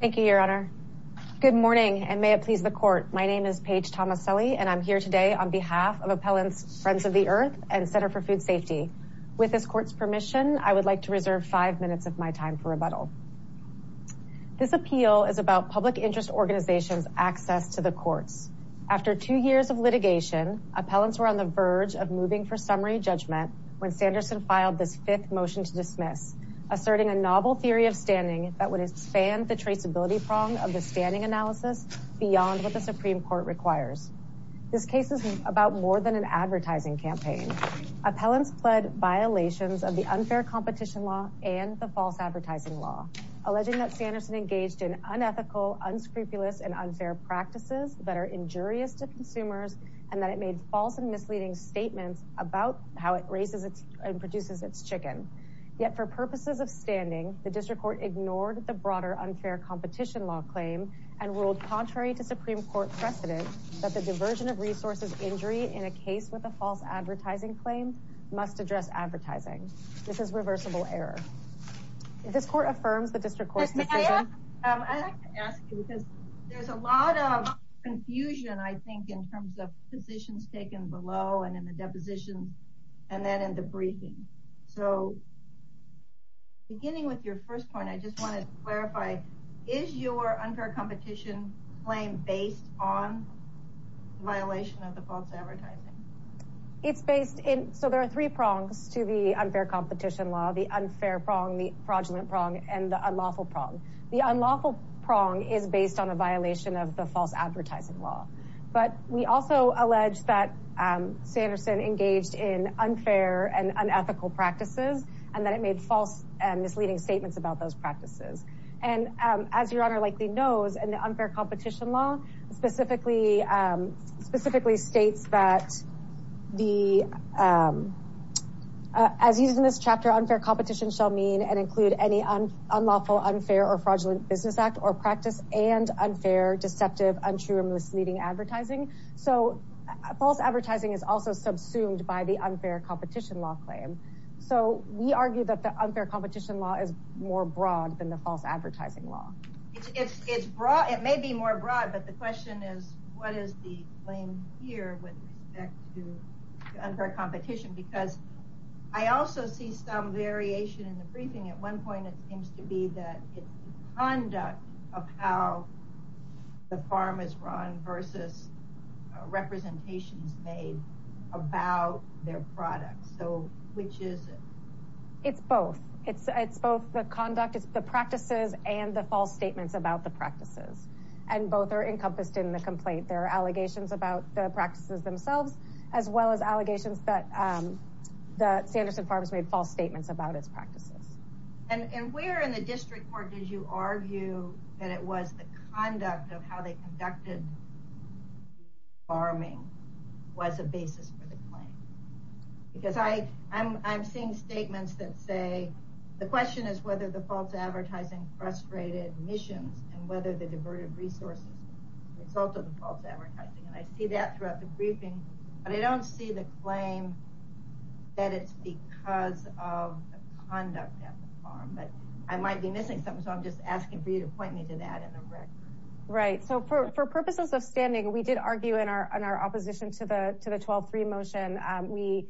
Thank you, your honor. Good morning and may it please the court. My name is Paige Tomaselli and I'm here today on behalf of Appellants Friends of the Earth and Center for Food Safety. With this court's permission, I would like to reserve five minutes of my time for rebuttal. This appeal is about public interest organizations' access to the courts. After two years of litigation, appellants were on the verge of moving for summary judgment when Sanderson filed this fifth motion to dismiss, asserting a novel theory of expanding the traceability prong of the standing analysis beyond what the Supreme Court requires. This case is about more than an advertising campaign. Appellants pled violations of the unfair competition law and the false advertising law, alleging that Sanderson engaged in unethical, unscrupulous, and unfair practices that are injurious to consumers and that it made false and misleading statements about how it raises and produces its chicken. Yet for purposes of broader unfair competition law claim and ruled contrary to Supreme Court precedent that the diversion of resources injury in a case with a false advertising claim must address advertising. This is reversible error. This court affirms the district court's decision. I'd like to ask you because there's a lot of confusion I think in terms of positions taken below and in the depositions and then in the briefing. So beginning with your first point, I just wanted to clarify is your unfair competition claim based on violation of the false advertising? It's based in so there are three prongs to the unfair competition law. The unfair prong, the fraudulent prong, and the unlawful prong. The unlawful prong is based on a violation of the unfair and unethical practices and that it made false and misleading statements about those practices. And as your honor likely knows and the unfair competition law specifically states that the as used in this chapter unfair competition shall mean and include any unlawful, unfair, or fraudulent business act or practice and unfair, deceptive, untrue, or misleading advertising. So false advertising is also subsumed by the unfair competition law claim. So we argue that the unfair competition law is more broad than the false advertising law. It's broad. It may be more broad but the question is what is the claim here with respect to unfair competition? Because I also see some variation in the briefing. At one point it seems to be that it's the conduct of how the farm is run versus representations made about their products. So which is it? It's both. It's both the conduct, it's the practices, and the false statements about the practices. And both are encompassed in the complaint. There are allegations about the practices themselves as well as allegations that the Sanderson Farms made false statements about its practices. And where in the district court did you argue that it was the conduct of how they conducted farming was a basis for the claim? Because I'm seeing statements that say the question is whether the false advertising frustrated missions and whether the diverted resources result of the false advertising. And I see that throughout the briefing but I don't see the claim that it's because of the conduct at the farm. But I might be missing something so I'm just asking for you to point me to that in the record. Right, so for purposes of standing we did argue in our opposition to the to the 12-3 motion. We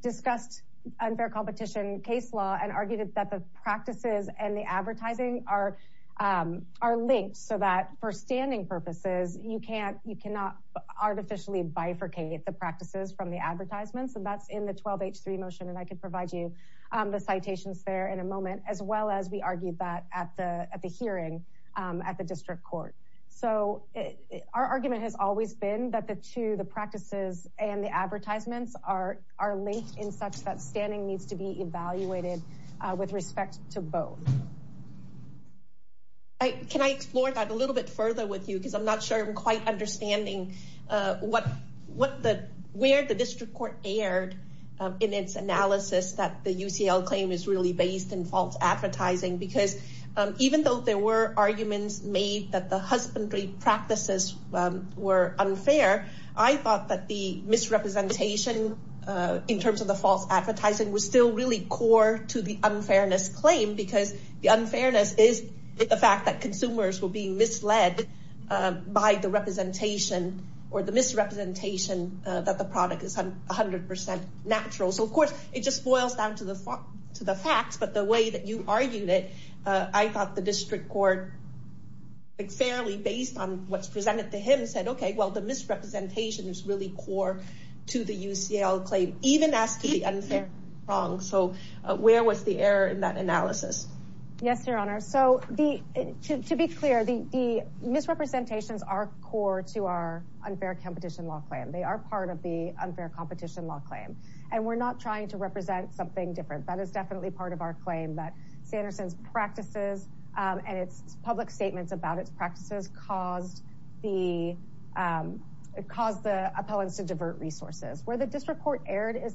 discussed unfair competition case law and argued that the practices and the advertising are linked so that for standing purposes you can't you cannot artificially bifurcate the practices from the advertisements and that's in the 12-H-3 motion. And I could provide you the citations there in a moment as well as we argued that at the at the hearing at the district court. So our argument has always been that the two the practices and the advertisements are are linked in such that standing needs to be evaluated with respect to both. Can I explore that a little bit further with you because I'm not sure I'm quite understanding where the district court erred in its analysis that the UCL claim is really based in false advertising because even though there were arguments made that the husbandry practices were unfair, I thought that the misrepresentation in terms of the false advertising was still really core to the unfairness claim because the unfairness is the fact that consumers will be misled by the representation or the misrepresentation that the product is a hundred percent natural. So of course it just boils down to the to the facts but the way that you argued it I thought the district court fairly based on what's presented to him said okay well the misrepresentation is really core to the UCL claim even as to the unfair wrong so where was the error in that analysis? Yes your honor so the to be clear the the misrepresentations are core to our unfair competition law claim they are part of the unfair competition law claim and we're not trying to represent something different that is definitely part of our claim that Sanderson's practices and its public statements about its is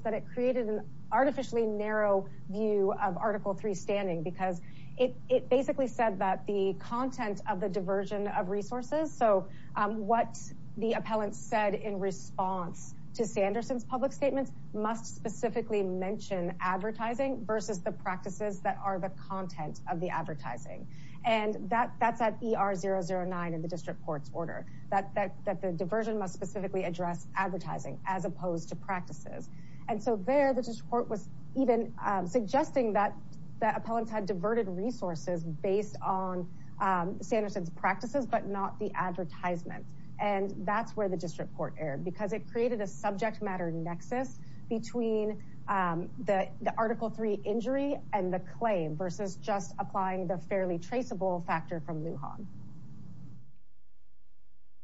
that it created an artificially narrow view of article three standing because it it basically said that the content of the diversion of resources so what the appellant said in response to Sanderson's public statements must specifically mention advertising versus the practices that are the content of the advertising and that that's at er009 in the district court's order that that the diversion must specifically address advertising as opposed to practices and so there the district court was even suggesting that that appellants had diverted resources based on Sanderson's practices but not the advertisement and that's where the district court erred because it created a subject matter nexus between the the article three injury and the claim versus just applying the fairly traceable factor from Lujan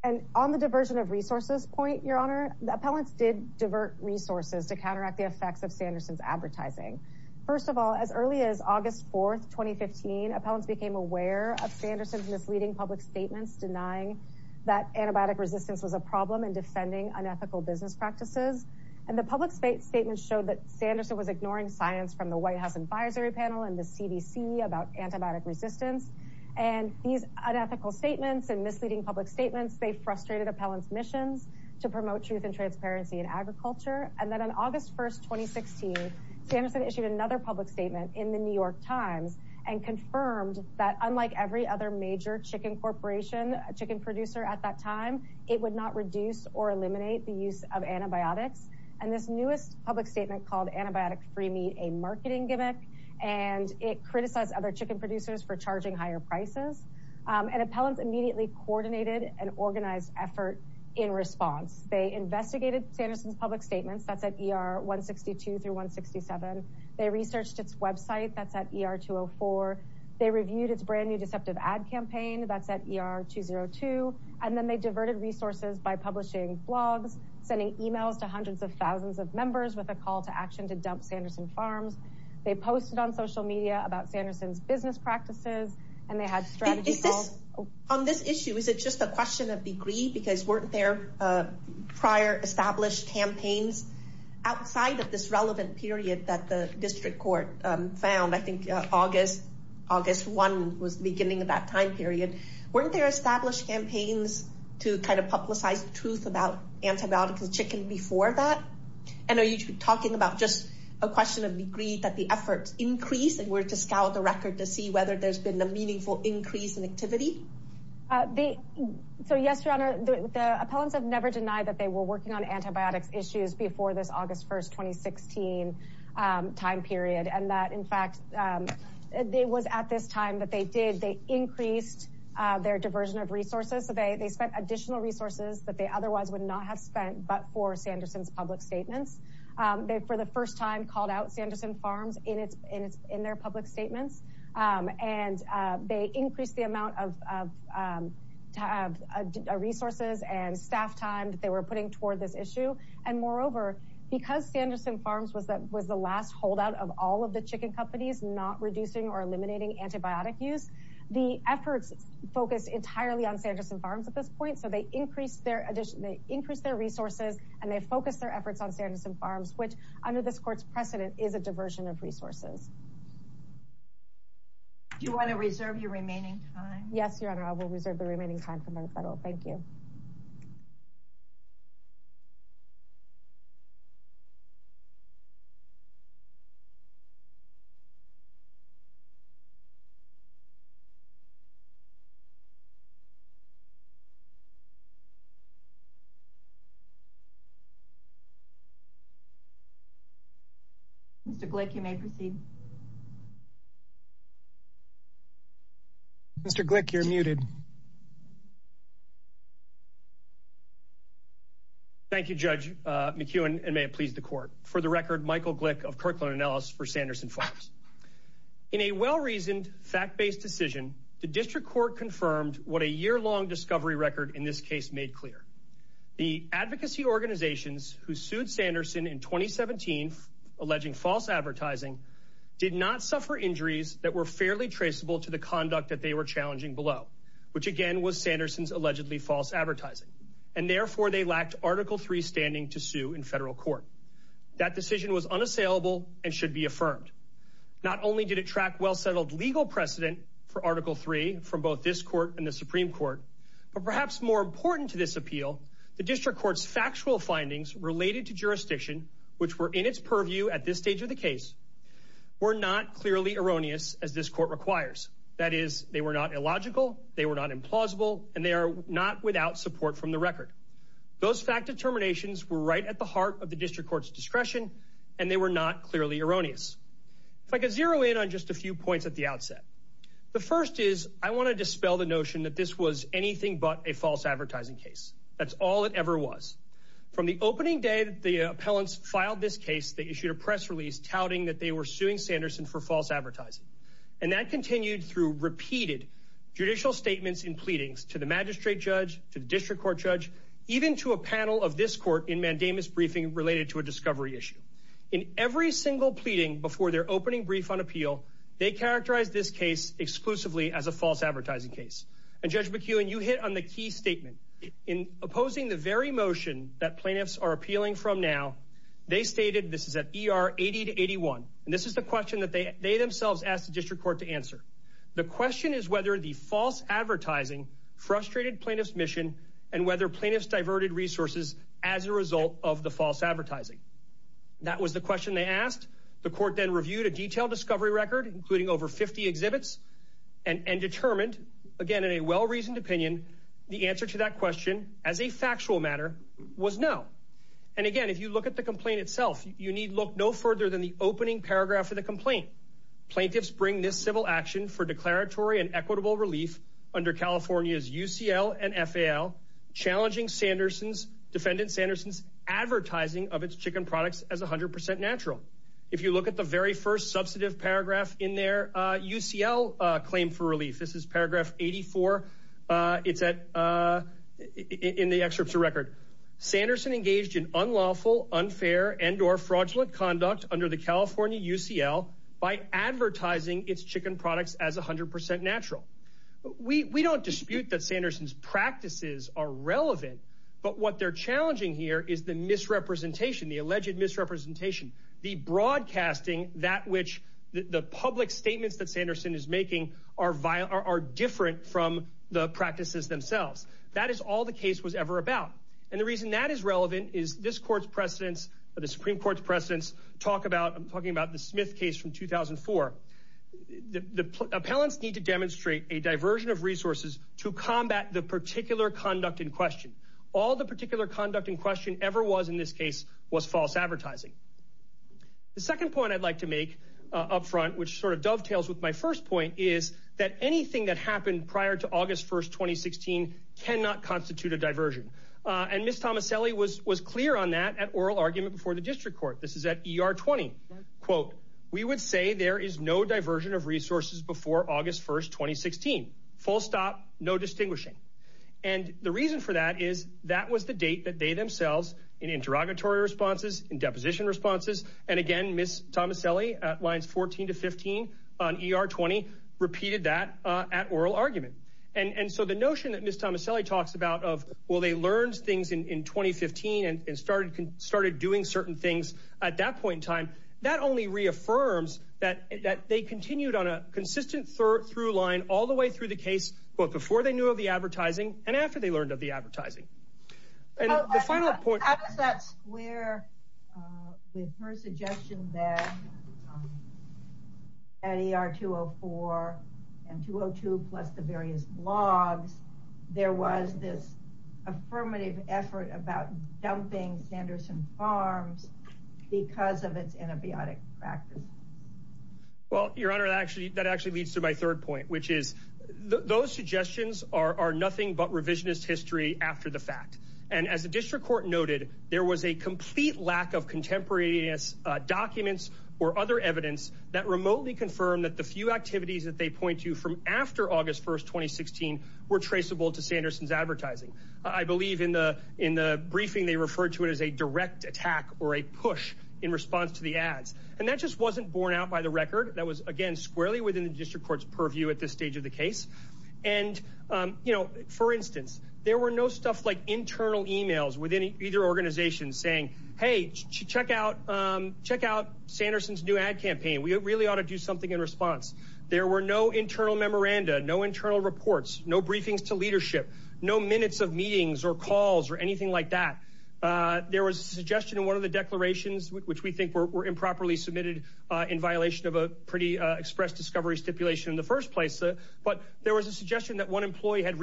and on the diversion of resources point your honor the appellants did divert resources to counteract the effects of Sanderson's advertising first of all as early as august 4th 2015 appellants became aware of Sanderson's misleading public statements denying that antibiotic resistance was a problem and defending unethical business practices and the public state statements showed that Sanderson was ignoring science from the white house advisory panel and the cdc about antibiotic resistance and these unethical statements and misleading public statements they frustrated appellants missions to promote truth and transparency in agriculture and then on august 1st 2016 Sanderson issued another public statement in the new york times and confirmed that unlike every other major chicken corporation chicken producer at that time it would not reduce or eliminate the use of antibiotics and this newest public statement called antibiotic free meat a marketing gimmick and it criticized other chicken producers for charging higher prices and appellants immediately coordinated an organized effort in response they investigated Sanderson's public statements that's at er 162 through 167 they researched its website that's at er 204 they reviewed its brand new deceptive ad campaign that's at er 202 and then they diverted resources by publishing blogs sending emails to hundreds of members with a call to action to dump Sanderson farms they posted on social media about Sanderson's business practices and they had strategy on this issue is it just a question of degree because weren't there uh prior established campaigns outside of this relevant period that the district court um found i think august august one was the beginning of that time period weren't there established campaigns to kind of publicize the truth about antibiotics and chicken before that and are you talking about just a question of degree that the efforts increased and we're to scout the record to see whether there's been a meaningful increase in activity uh the so yes your honor the appellants have never denied that they were working on antibiotics issues before this august 1st 2016 um time period and that in fact um it was at this time that they did they increased uh their diversion of resources so they they spent additional resources that they otherwise would not have spent but for Sanderson's public statements um they for the first time called out Sanderson farms in its in its in their public statements um and uh they increased the amount of um to have resources and staff time that they were putting toward this issue and moreover because Sanderson farms was that was the last holdout of all of the chicken companies not or eliminating antibiotic use the efforts focused entirely on Sanderson farms at this point so they increased their addition they increased their resources and they focused their efforts on Sanderson farms which under this court's precedent is a diversion of resources do you want to reserve your remaining time yes your honor i will reserve the you mr glick you may proceed mr glick you're muted thank you judge uh McEwen and may it please the court for the record Michael Glick of Kirkland Ellis for Sanderson farms in a well-reasoned fact-based decision the district court confirmed what a year-long discovery record in this case made clear the advocacy organizations who sued Sanderson in 2017 alleging false advertising did not suffer injuries that were fairly traceable to the conduct that they were challenging below which again was Sanderson's allegedly false advertising and therefore they lacked article 3 standing to sue in federal court that decision was unassailable and should be affirmed not only did it track well-settled legal precedent for article 3 from both this court and the supreme court but perhaps more important to this appeal the district court's factual findings related to jurisdiction which were in its purview at this stage of the case were not clearly erroneous as this court requires that is they were not illogical they were not implausible and they are not without support from the record those fact determinations were right at the heart of the district court's discretion and they were not clearly erroneous if i could zero in on just a few points at the outset the first is i want to dispel the notion that this was anything but a false advertising case that's all it ever was from the opening day the appellants filed this case they issued a press release touting that they were suing Sanderson for false advertising and that continued through repeated judicial statements and pleadings to the magistrate judge to the district court judge even to a panel of this court in mandamus briefing related to a discovery issue in every single pleading before their opening brief on appeal they characterized this case exclusively as a false advertising case and judge McEwen you hit on the key statement in opposing the very motion that plaintiffs are appealing from now they stated this is at er 80 to 81 and this is the question that they they themselves asked the district court to answer the question is whether the false advertising frustrated plaintiff's mission and whether plaintiffs diverted resources as a result of the false advertising that was the question they asked the court then reviewed a detailed discovery record including over 50 exhibits and and determined again in a well-reasoned opinion the answer to that question as a factual matter was no and again if you look at the complaint itself you need look no further than the opening action for declaratory and equitable relief under california's ucl and fal challenging sanderson's defendant sanderson's advertising of its chicken products as 100 natural if you look at the very first substantive paragraph in their uh ucl uh claim for relief this is paragraph 84 uh it's at uh in the excerpts of record sanderson engaged in unlawful unfair and or as 100 natural we we don't dispute that sanderson's practices are relevant but what they're challenging here is the misrepresentation the alleged misrepresentation the broadcasting that which the public statements that sanderson is making are vile are different from the practices themselves that is all the case was ever about and the reason that is relevant is this court's precedents the supreme court's precedents talk about i'm talking about the smith case from 2004 the appellants need to demonstrate a diversion of resources to combat the particular conduct in question all the particular conduct in question ever was in this case was false advertising the second point i'd like to make up front which sort of dovetails with my first point is that anything that happened prior to august 1st 2016 cannot constitute a diversion uh and miss tomaselli was was clear on that at oral argument before the district court this is at er 20 quote we would say there is no diversion of resources before august 1st 2016 full stop no distinguishing and the reason for that is that was the date that they themselves in interrogatory responses in deposition responses and again miss tomaselli at lines 14 to 15 on er 20 repeated that uh at oral argument and and so the notion that miss tomaselli talks about of well they learned things in 2015 and started started doing certain things at that point in time that only reaffirms that that they continued on a consistent through line all the way through the case but before they knew of the advertising and after they learned of the advertising and the final point how does that square uh with her suggestion that at er 204 and 202 plus the various blogs there was this affirmative effort about dumping sanderson farms because of its antibiotic practice well your honor actually that actually leads to my third point which is those suggestions are are nothing but revisionist history after the fact and as the district court noted there was a complete lack of contemporaneous documents or other evidence that remotely confirmed that the few activities that they point to from after august 1st 2016 were traceable to sanderson's advertising i believe in the in the briefing they referred to it as a direct attack or a push in response to the ads and that just wasn't borne out by the record that was again squarely within the district court's purview at this stage of the case and um you know for instance there were no stuff like internal emails within either organization saying hey check out um check out sanderson's new ad campaign we really ought to do something in response there were no internal memoranda no internal reports no briefings to leadership no minutes of meetings or calls or anything like that uh there was a suggestion in one of the declarations which we think were improperly submitted uh in violation of a pretty express discovery stipulation in the first place but there was a suggestion that one employee had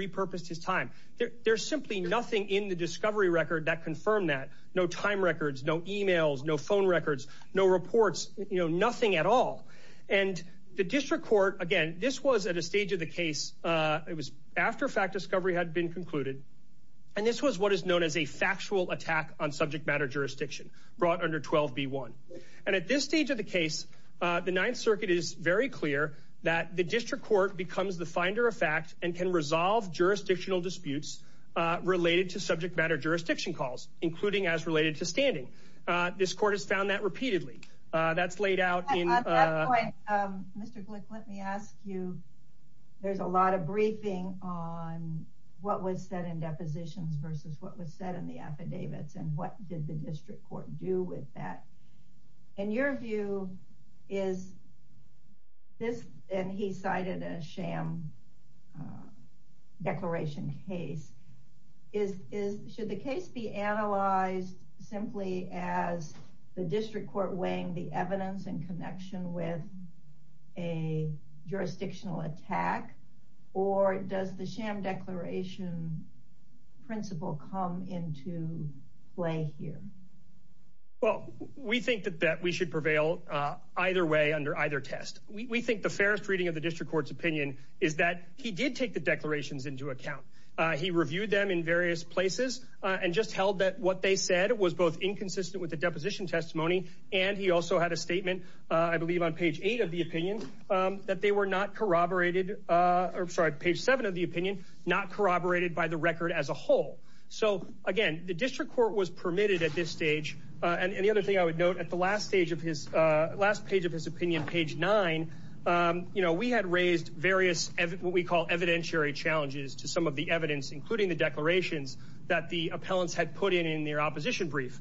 no time records no emails no phone records no reports you know nothing at all and the district court again this was at a stage of the case uh it was after fact discovery had been concluded and this was what is known as a factual attack on subject matter jurisdiction brought under 12b1 and at this stage of the case uh the ninth circuit is very clear that the district court becomes the finder of fact and can resolve jurisdictional disputes uh related to subject matter jurisdiction calls including as related to standing uh this court has found that repeatedly uh that's laid out in uh mr glick let me ask you there's a lot of briefing on what was said in depositions versus what was said in the affidavits and what did the district court do with that in your view is this and he cited a sham uh declaration case is is should the case be analyzed simply as the district court weighing the evidence in connection with a jurisdictional attack or does the sham declaration principle come into play here well we think that that we should prevail either way under either test we think the fairest reading of the district court's opinion is that he did take the declarations into account uh he reviewed them in various places and just held that what they said was both inconsistent with the deposition testimony and he also had a statement i believe on page eight of the opinion um that they were not corroborated uh or sorry page seven of the opinion not corroborated by the record as a whole so again the district court was permitted at this stage and the other thing i would note at the last stage of his uh last page of his opinion page nine um you know we had raised various what we call evidentiary challenges to some of the evidence including the declarations that the appellants had put in in their opposition brief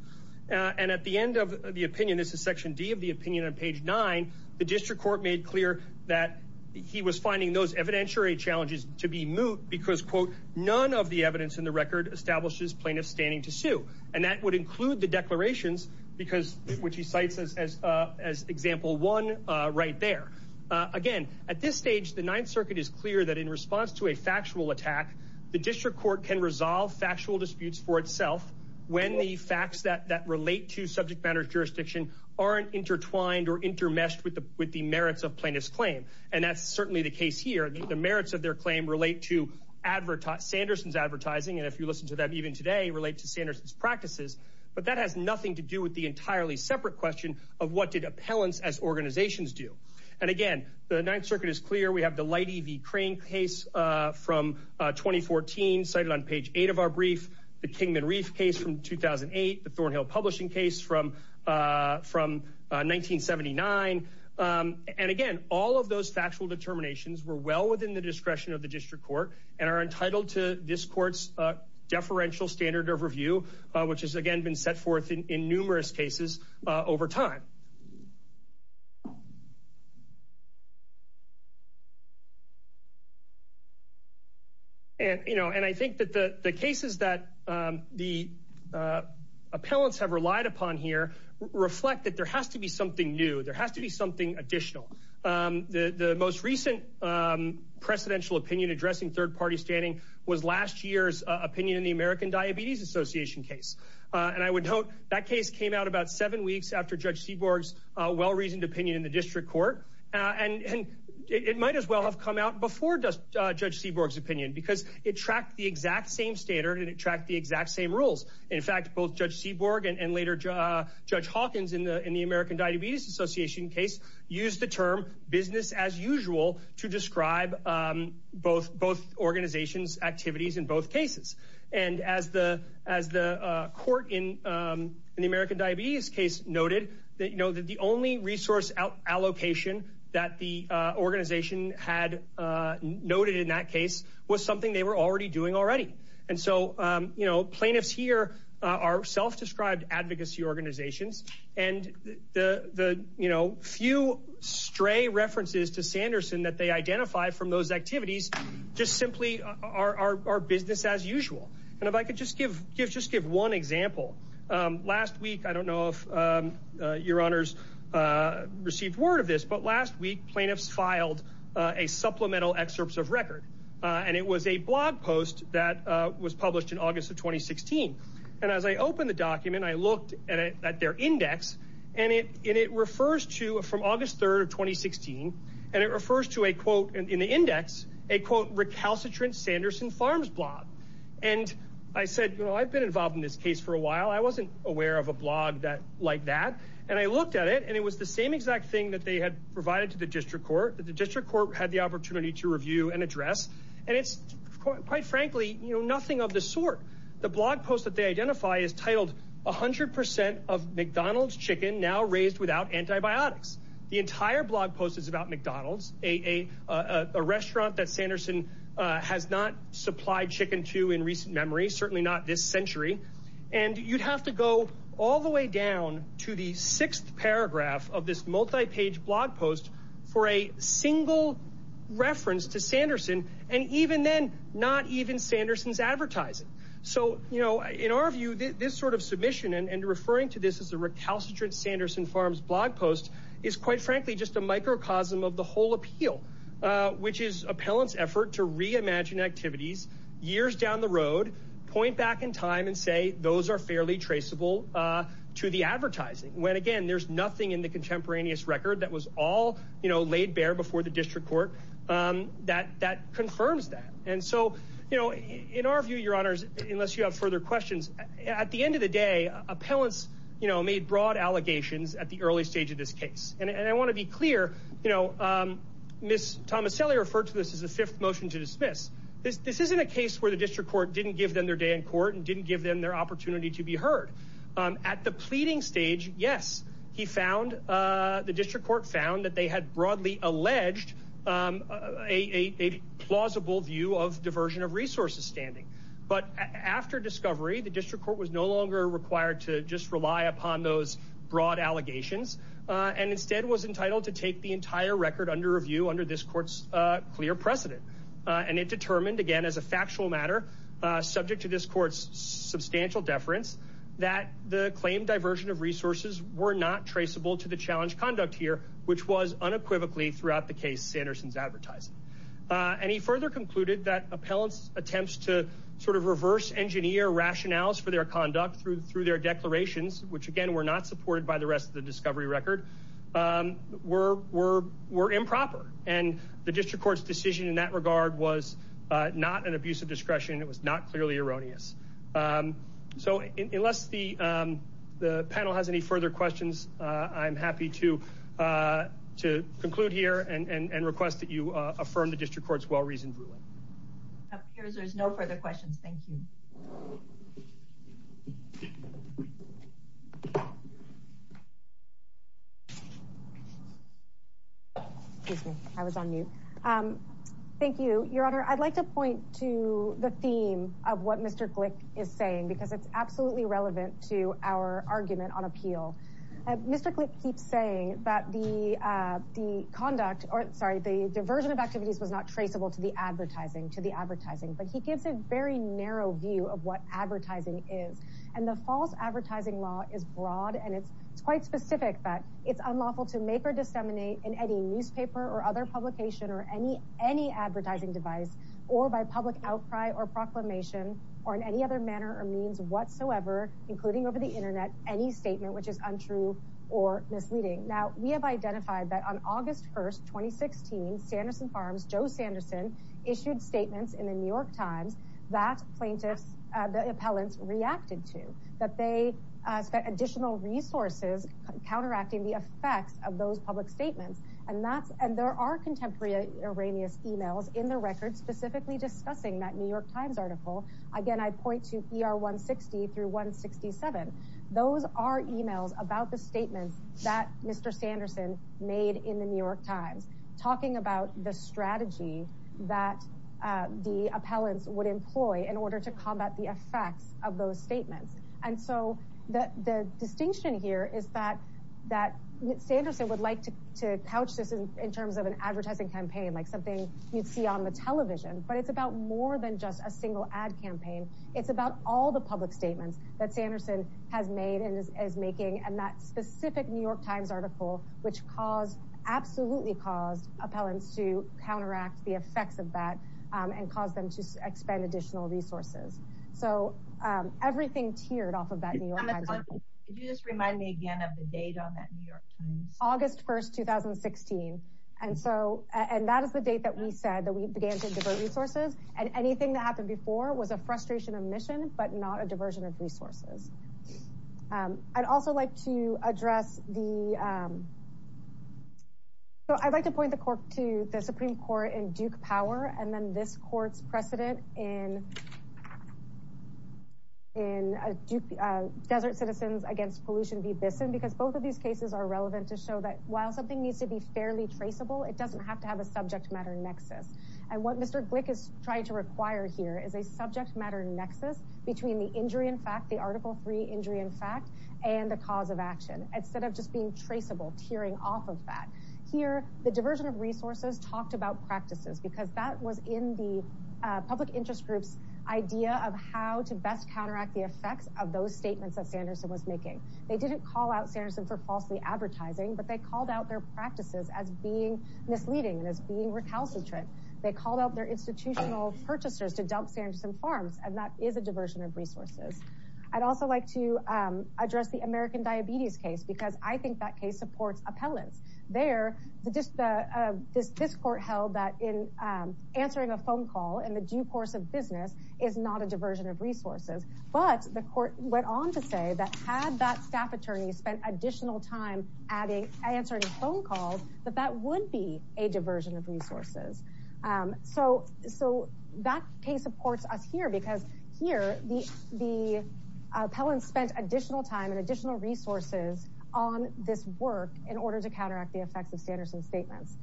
and at the end of the opinion this is section d of the opinion on page nine the district court made clear that he was finding those evidentiary challenges to be moot because quote none of the evidence in the record establishes plaintiffs and that would include the declarations because which he cites as as uh as example one uh right there uh again at this stage the ninth circuit is clear that in response to a factual attack the district court can resolve factual disputes for itself when the facts that that relate to subject matter jurisdiction aren't intertwined or intermeshed with the with the merits of plaintiff's claim and that's certainly the case here the merits of their claim relate to advertised anderson's advertising and if you listen to them even today relate to sanderson's practices but that has nothing to do with the entirely separate question of what did appellants as organizations do and again the ninth circuit is clear we have the light ev crane case uh from uh 2014 cited on page 8 of our brief the kingman reef case from 2008 the thornhill publishing case from uh from uh 1979 um and again all of those factual determinations were well within the discretion of the district court and are entitled to this court's uh deferential standard of review which has again been set forth in in numerous cases uh over time and you know and i think that the the cases that um the uh appellants have relied upon here reflect that there has to be something new there has to be something additional um the the most recent um precedential opinion addressing third-party standing was last year's opinion in the american diabetes association case uh and i would note that case came out about seven weeks after judge seaborg's uh well-reasoned opinion in the district court uh and and it might as well have come out before judge seaborg's opinion because it tracked the exact same standard and it tracked the exact same rules in fact both judge seaborg and later judge hawkins in the in business as usual to describe um both both organizations activities in both cases and as the as the uh court in um in the american diabetes case noted that you know that the only resource allocation that the uh organization had uh noted in that case was something they were already doing already and so um you know plaintiffs here are self-described advocacy organizations and the the you know few stray references to sanderson that they identify from those activities just simply are our business as usual and if i could just give give just give one example um last week i don't know if um uh your honors uh received word of this but last week plaintiffs filed uh a supplemental excerpts of record uh and it was a blog post that uh was published in august of 2016 and as i opened the document i looked at it at their index and it and it refers to from august 3rd of 2016 and it refers to a quote in the index a quote recalcitrant sanderson farms blog and i said you know i've been involved in this case for a while i wasn't aware of a blog that like that and i looked at it and it was the same exact thing that they had provided to the district court that the district court had the opportunity to review and address and it's quite frankly you know nothing of the sort the blog post that they identify is titled a hundred percent of mcdonald's chicken now raised without antibiotics the entire blog post is about mcdonald's a a a restaurant that sanderson uh has not supplied chicken to in recent memory certainly not this century and you'd have to go all the way down to the sixth paragraph of this multi-page blog post for a single reference to sanderson and even then not even sanderson's advertising so you know in our view this sort of submission and referring to this as a recalcitrant sanderson farms blog post is quite frankly just a microcosm of the whole appeal uh which is appellants effort to reimagine activities years down the road point back in time and say those are fairly traceable uh to the advertising when again there's nothing in the contemporaneous record that was all you know laid bare before the district court um that that confirms that and so you know in our view your honors unless you have further questions at the end of the day appellants you know made broad allegations at the early stage of this case and i want to be clear you know um miss tomaselli referred to this as the fifth motion to dismiss this this isn't a case where the district court didn't give them their day in court and didn't give them their opportunity to be heard um at the pleading stage yes he found uh the district court found that they had broadly alleged um a a plausible view of diversion of resources standing but after discovery the district court was no longer required to just rely upon those broad allegations uh and instead was entitled to take the entire record under review under this court's uh clear precedent uh and it determined again as a factual matter uh subject to this court's substantial deference that the claim diversion of resources were not traceable to the challenge conduct here which was unequivocally throughout the case sanderson's advertising uh and he further concluded that appellants attempts to sort of reverse engineer rationales for their conduct through through their declarations which again were not supported by the rest of the discovery record um were were were improper and the district court's decision in that regard was uh not an abuse of discretion it was not clearly erroneous um so unless the um the panel has any further questions uh i'm happy to uh to conclude here and and request that you uh affirm the district court's well-reasoned ruling appears there's no further questions thank you excuse me i was on mute um thank you your honor i'd like to point to the theme of what mr glick is saying because it's absolutely relevant to our argument on appeal mr glick keeps saying that the uh the conduct or sorry the diversion of activities was not traceable to the advertising to the advertising but he gives a very narrow view of what advertising is and the false advertising law is broad and it's quite specific that it's unlawful to make or disseminate in any newspaper or other publication or any any advertising device or by public outcry or proclamation or in any other manner or means whatsoever including over the internet any statement which is untrue or misleading now we have identified that on august 1st 2016 sanderson farms joe sanderson issued statements in the new york times that plaintiffs uh the appellants reacted to that they spent additional resources counteracting the effects of those public statements and that's and there are contemporary erroneous emails in the record specifically discussing that new york times article again i point to er 160 through 167 those are emails about the statements that mr sanderson made in the new york times talking about the strategy that uh the appellants would employ in order to combat the effects of those statements and so that the distinction here is that that sanderson would like to to couch this in terms of an advertising campaign like something you'd see on the television but it's about more than just a that specific new york times article which caused absolutely caused appellants to counteract the effects of that um and cause them to expand additional resources so um everything tiered off of that new york can you just remind me again of the date on that new york times august 1st 2016 and so and that is the date that we said that we began to divert resources and anything that happened before was a frustration of mission but not a diversion of resources um i'd also like to address the um so i'd like to point the court to the supreme court in duke power and then this court's precedent in in a duke uh desert citizens against pollution v bison because both of these cases are relevant to show that while something needs to be fairly traceable it doesn't have to have a subject matter nexus and what mr glick is trying to require here is a subject matter nexus between the injury in injury in fact and the cause of action instead of just being traceable tearing off of that here the diversion of resources talked about practices because that was in the public interest groups idea of how to best counteract the effects of those statements that sanderson was making they didn't call out sanderson for falsely advertising but they called out their practices as being misleading and as being recalcitrant they called out their also like to um address the american diabetes case because i think that case supports appellants there the just the uh this this court held that in um answering a phone call in the due course of business is not a diversion of resources but the court went on to say that had that staff attorney spent additional time adding answering phone calls that that would be a diversion of appellants spent additional time and additional resources on this work in order to counteract the effects of sanderson's statements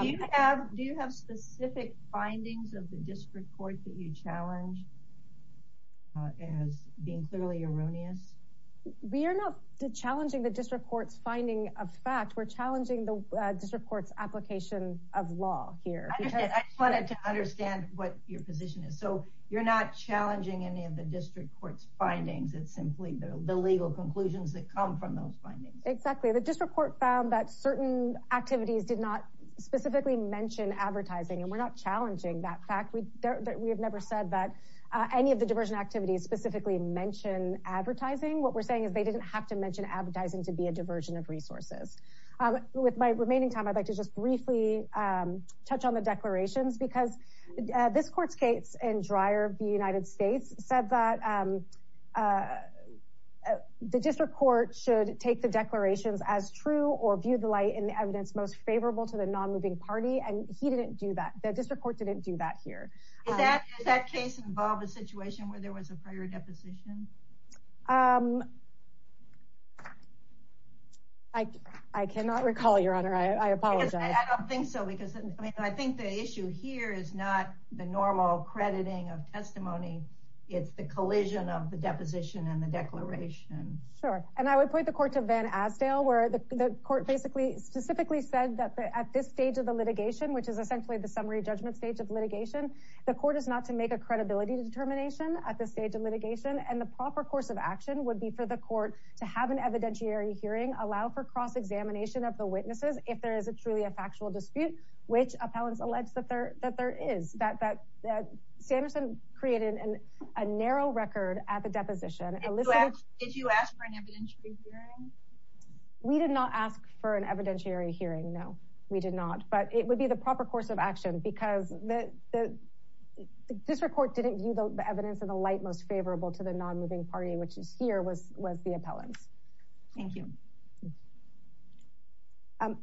do you have do you have specific findings of the district court that you challenge as being clearly erroneous we are not challenging the district court's finding of fact we're challenging the district court's application of law here i just wanted to understand what your position is so you're not challenging any of the district court's findings it's simply the legal conclusions that come from those findings exactly the district court found that certain activities did not specifically mention advertising and we're not challenging that fact we that we have never said that uh any of the diversion activities specifically mention advertising what we're saying is they didn't have to mention advertising to be a diversion of resources um with my remaining time i'd like to just briefly um touch on the declarations because this court's case in dryer the united states said that um uh the district court should take the declarations as true or view the light in the evidence most favorable to the non-moving party and he didn't do that the district court didn't do that here is that does that case involve a situation where there was a prior deposition um i i cannot recall your honor i i apologize i don't think so because i mean i think the issue here is not the normal crediting of testimony it's the collision of the deposition and the declaration sure and i would point the court to van asdale where the court basically specifically said that at this stage of the litigation which is essentially the summary judgment stage of litigation the court is not to make a credibility determination at the stage of litigation and the proper course of action would be for the court to have an evidentiary hearing allow for cross-examination of the witnesses if there is a truly a factual dispute which appellants allege that there that there is that that sanderson created an a narrow record at the deposition if you ask for an evidentiary hearing we did not ask for an evidentiary hearing no we did not but it would be the proper course of action because the the district court didn't view the evidence in the light most favorable to the non-moving party which is here was was thank you um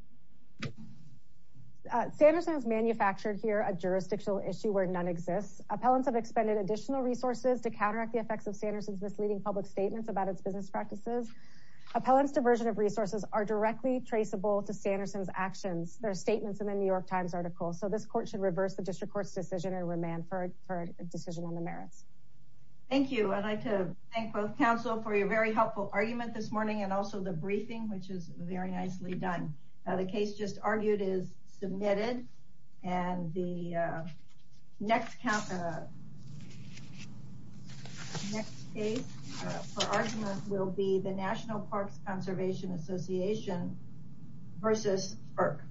sanderson has manufactured here a jurisdictional issue where none exists appellants have expended additional resources to counteract the effects of sanderson's misleading public statements about its business practices appellants diversion of resources are directly traceable to sanderson's actions there are statements in the new york times article so this court should reverse the district court's decision and remand for a decision on the merits thank you i'd like to thank both council for your very helpful argument this morning and also the briefing which is very nicely done the case just argued is submitted and the next next case for argument will be the national parks conservation association versus sperk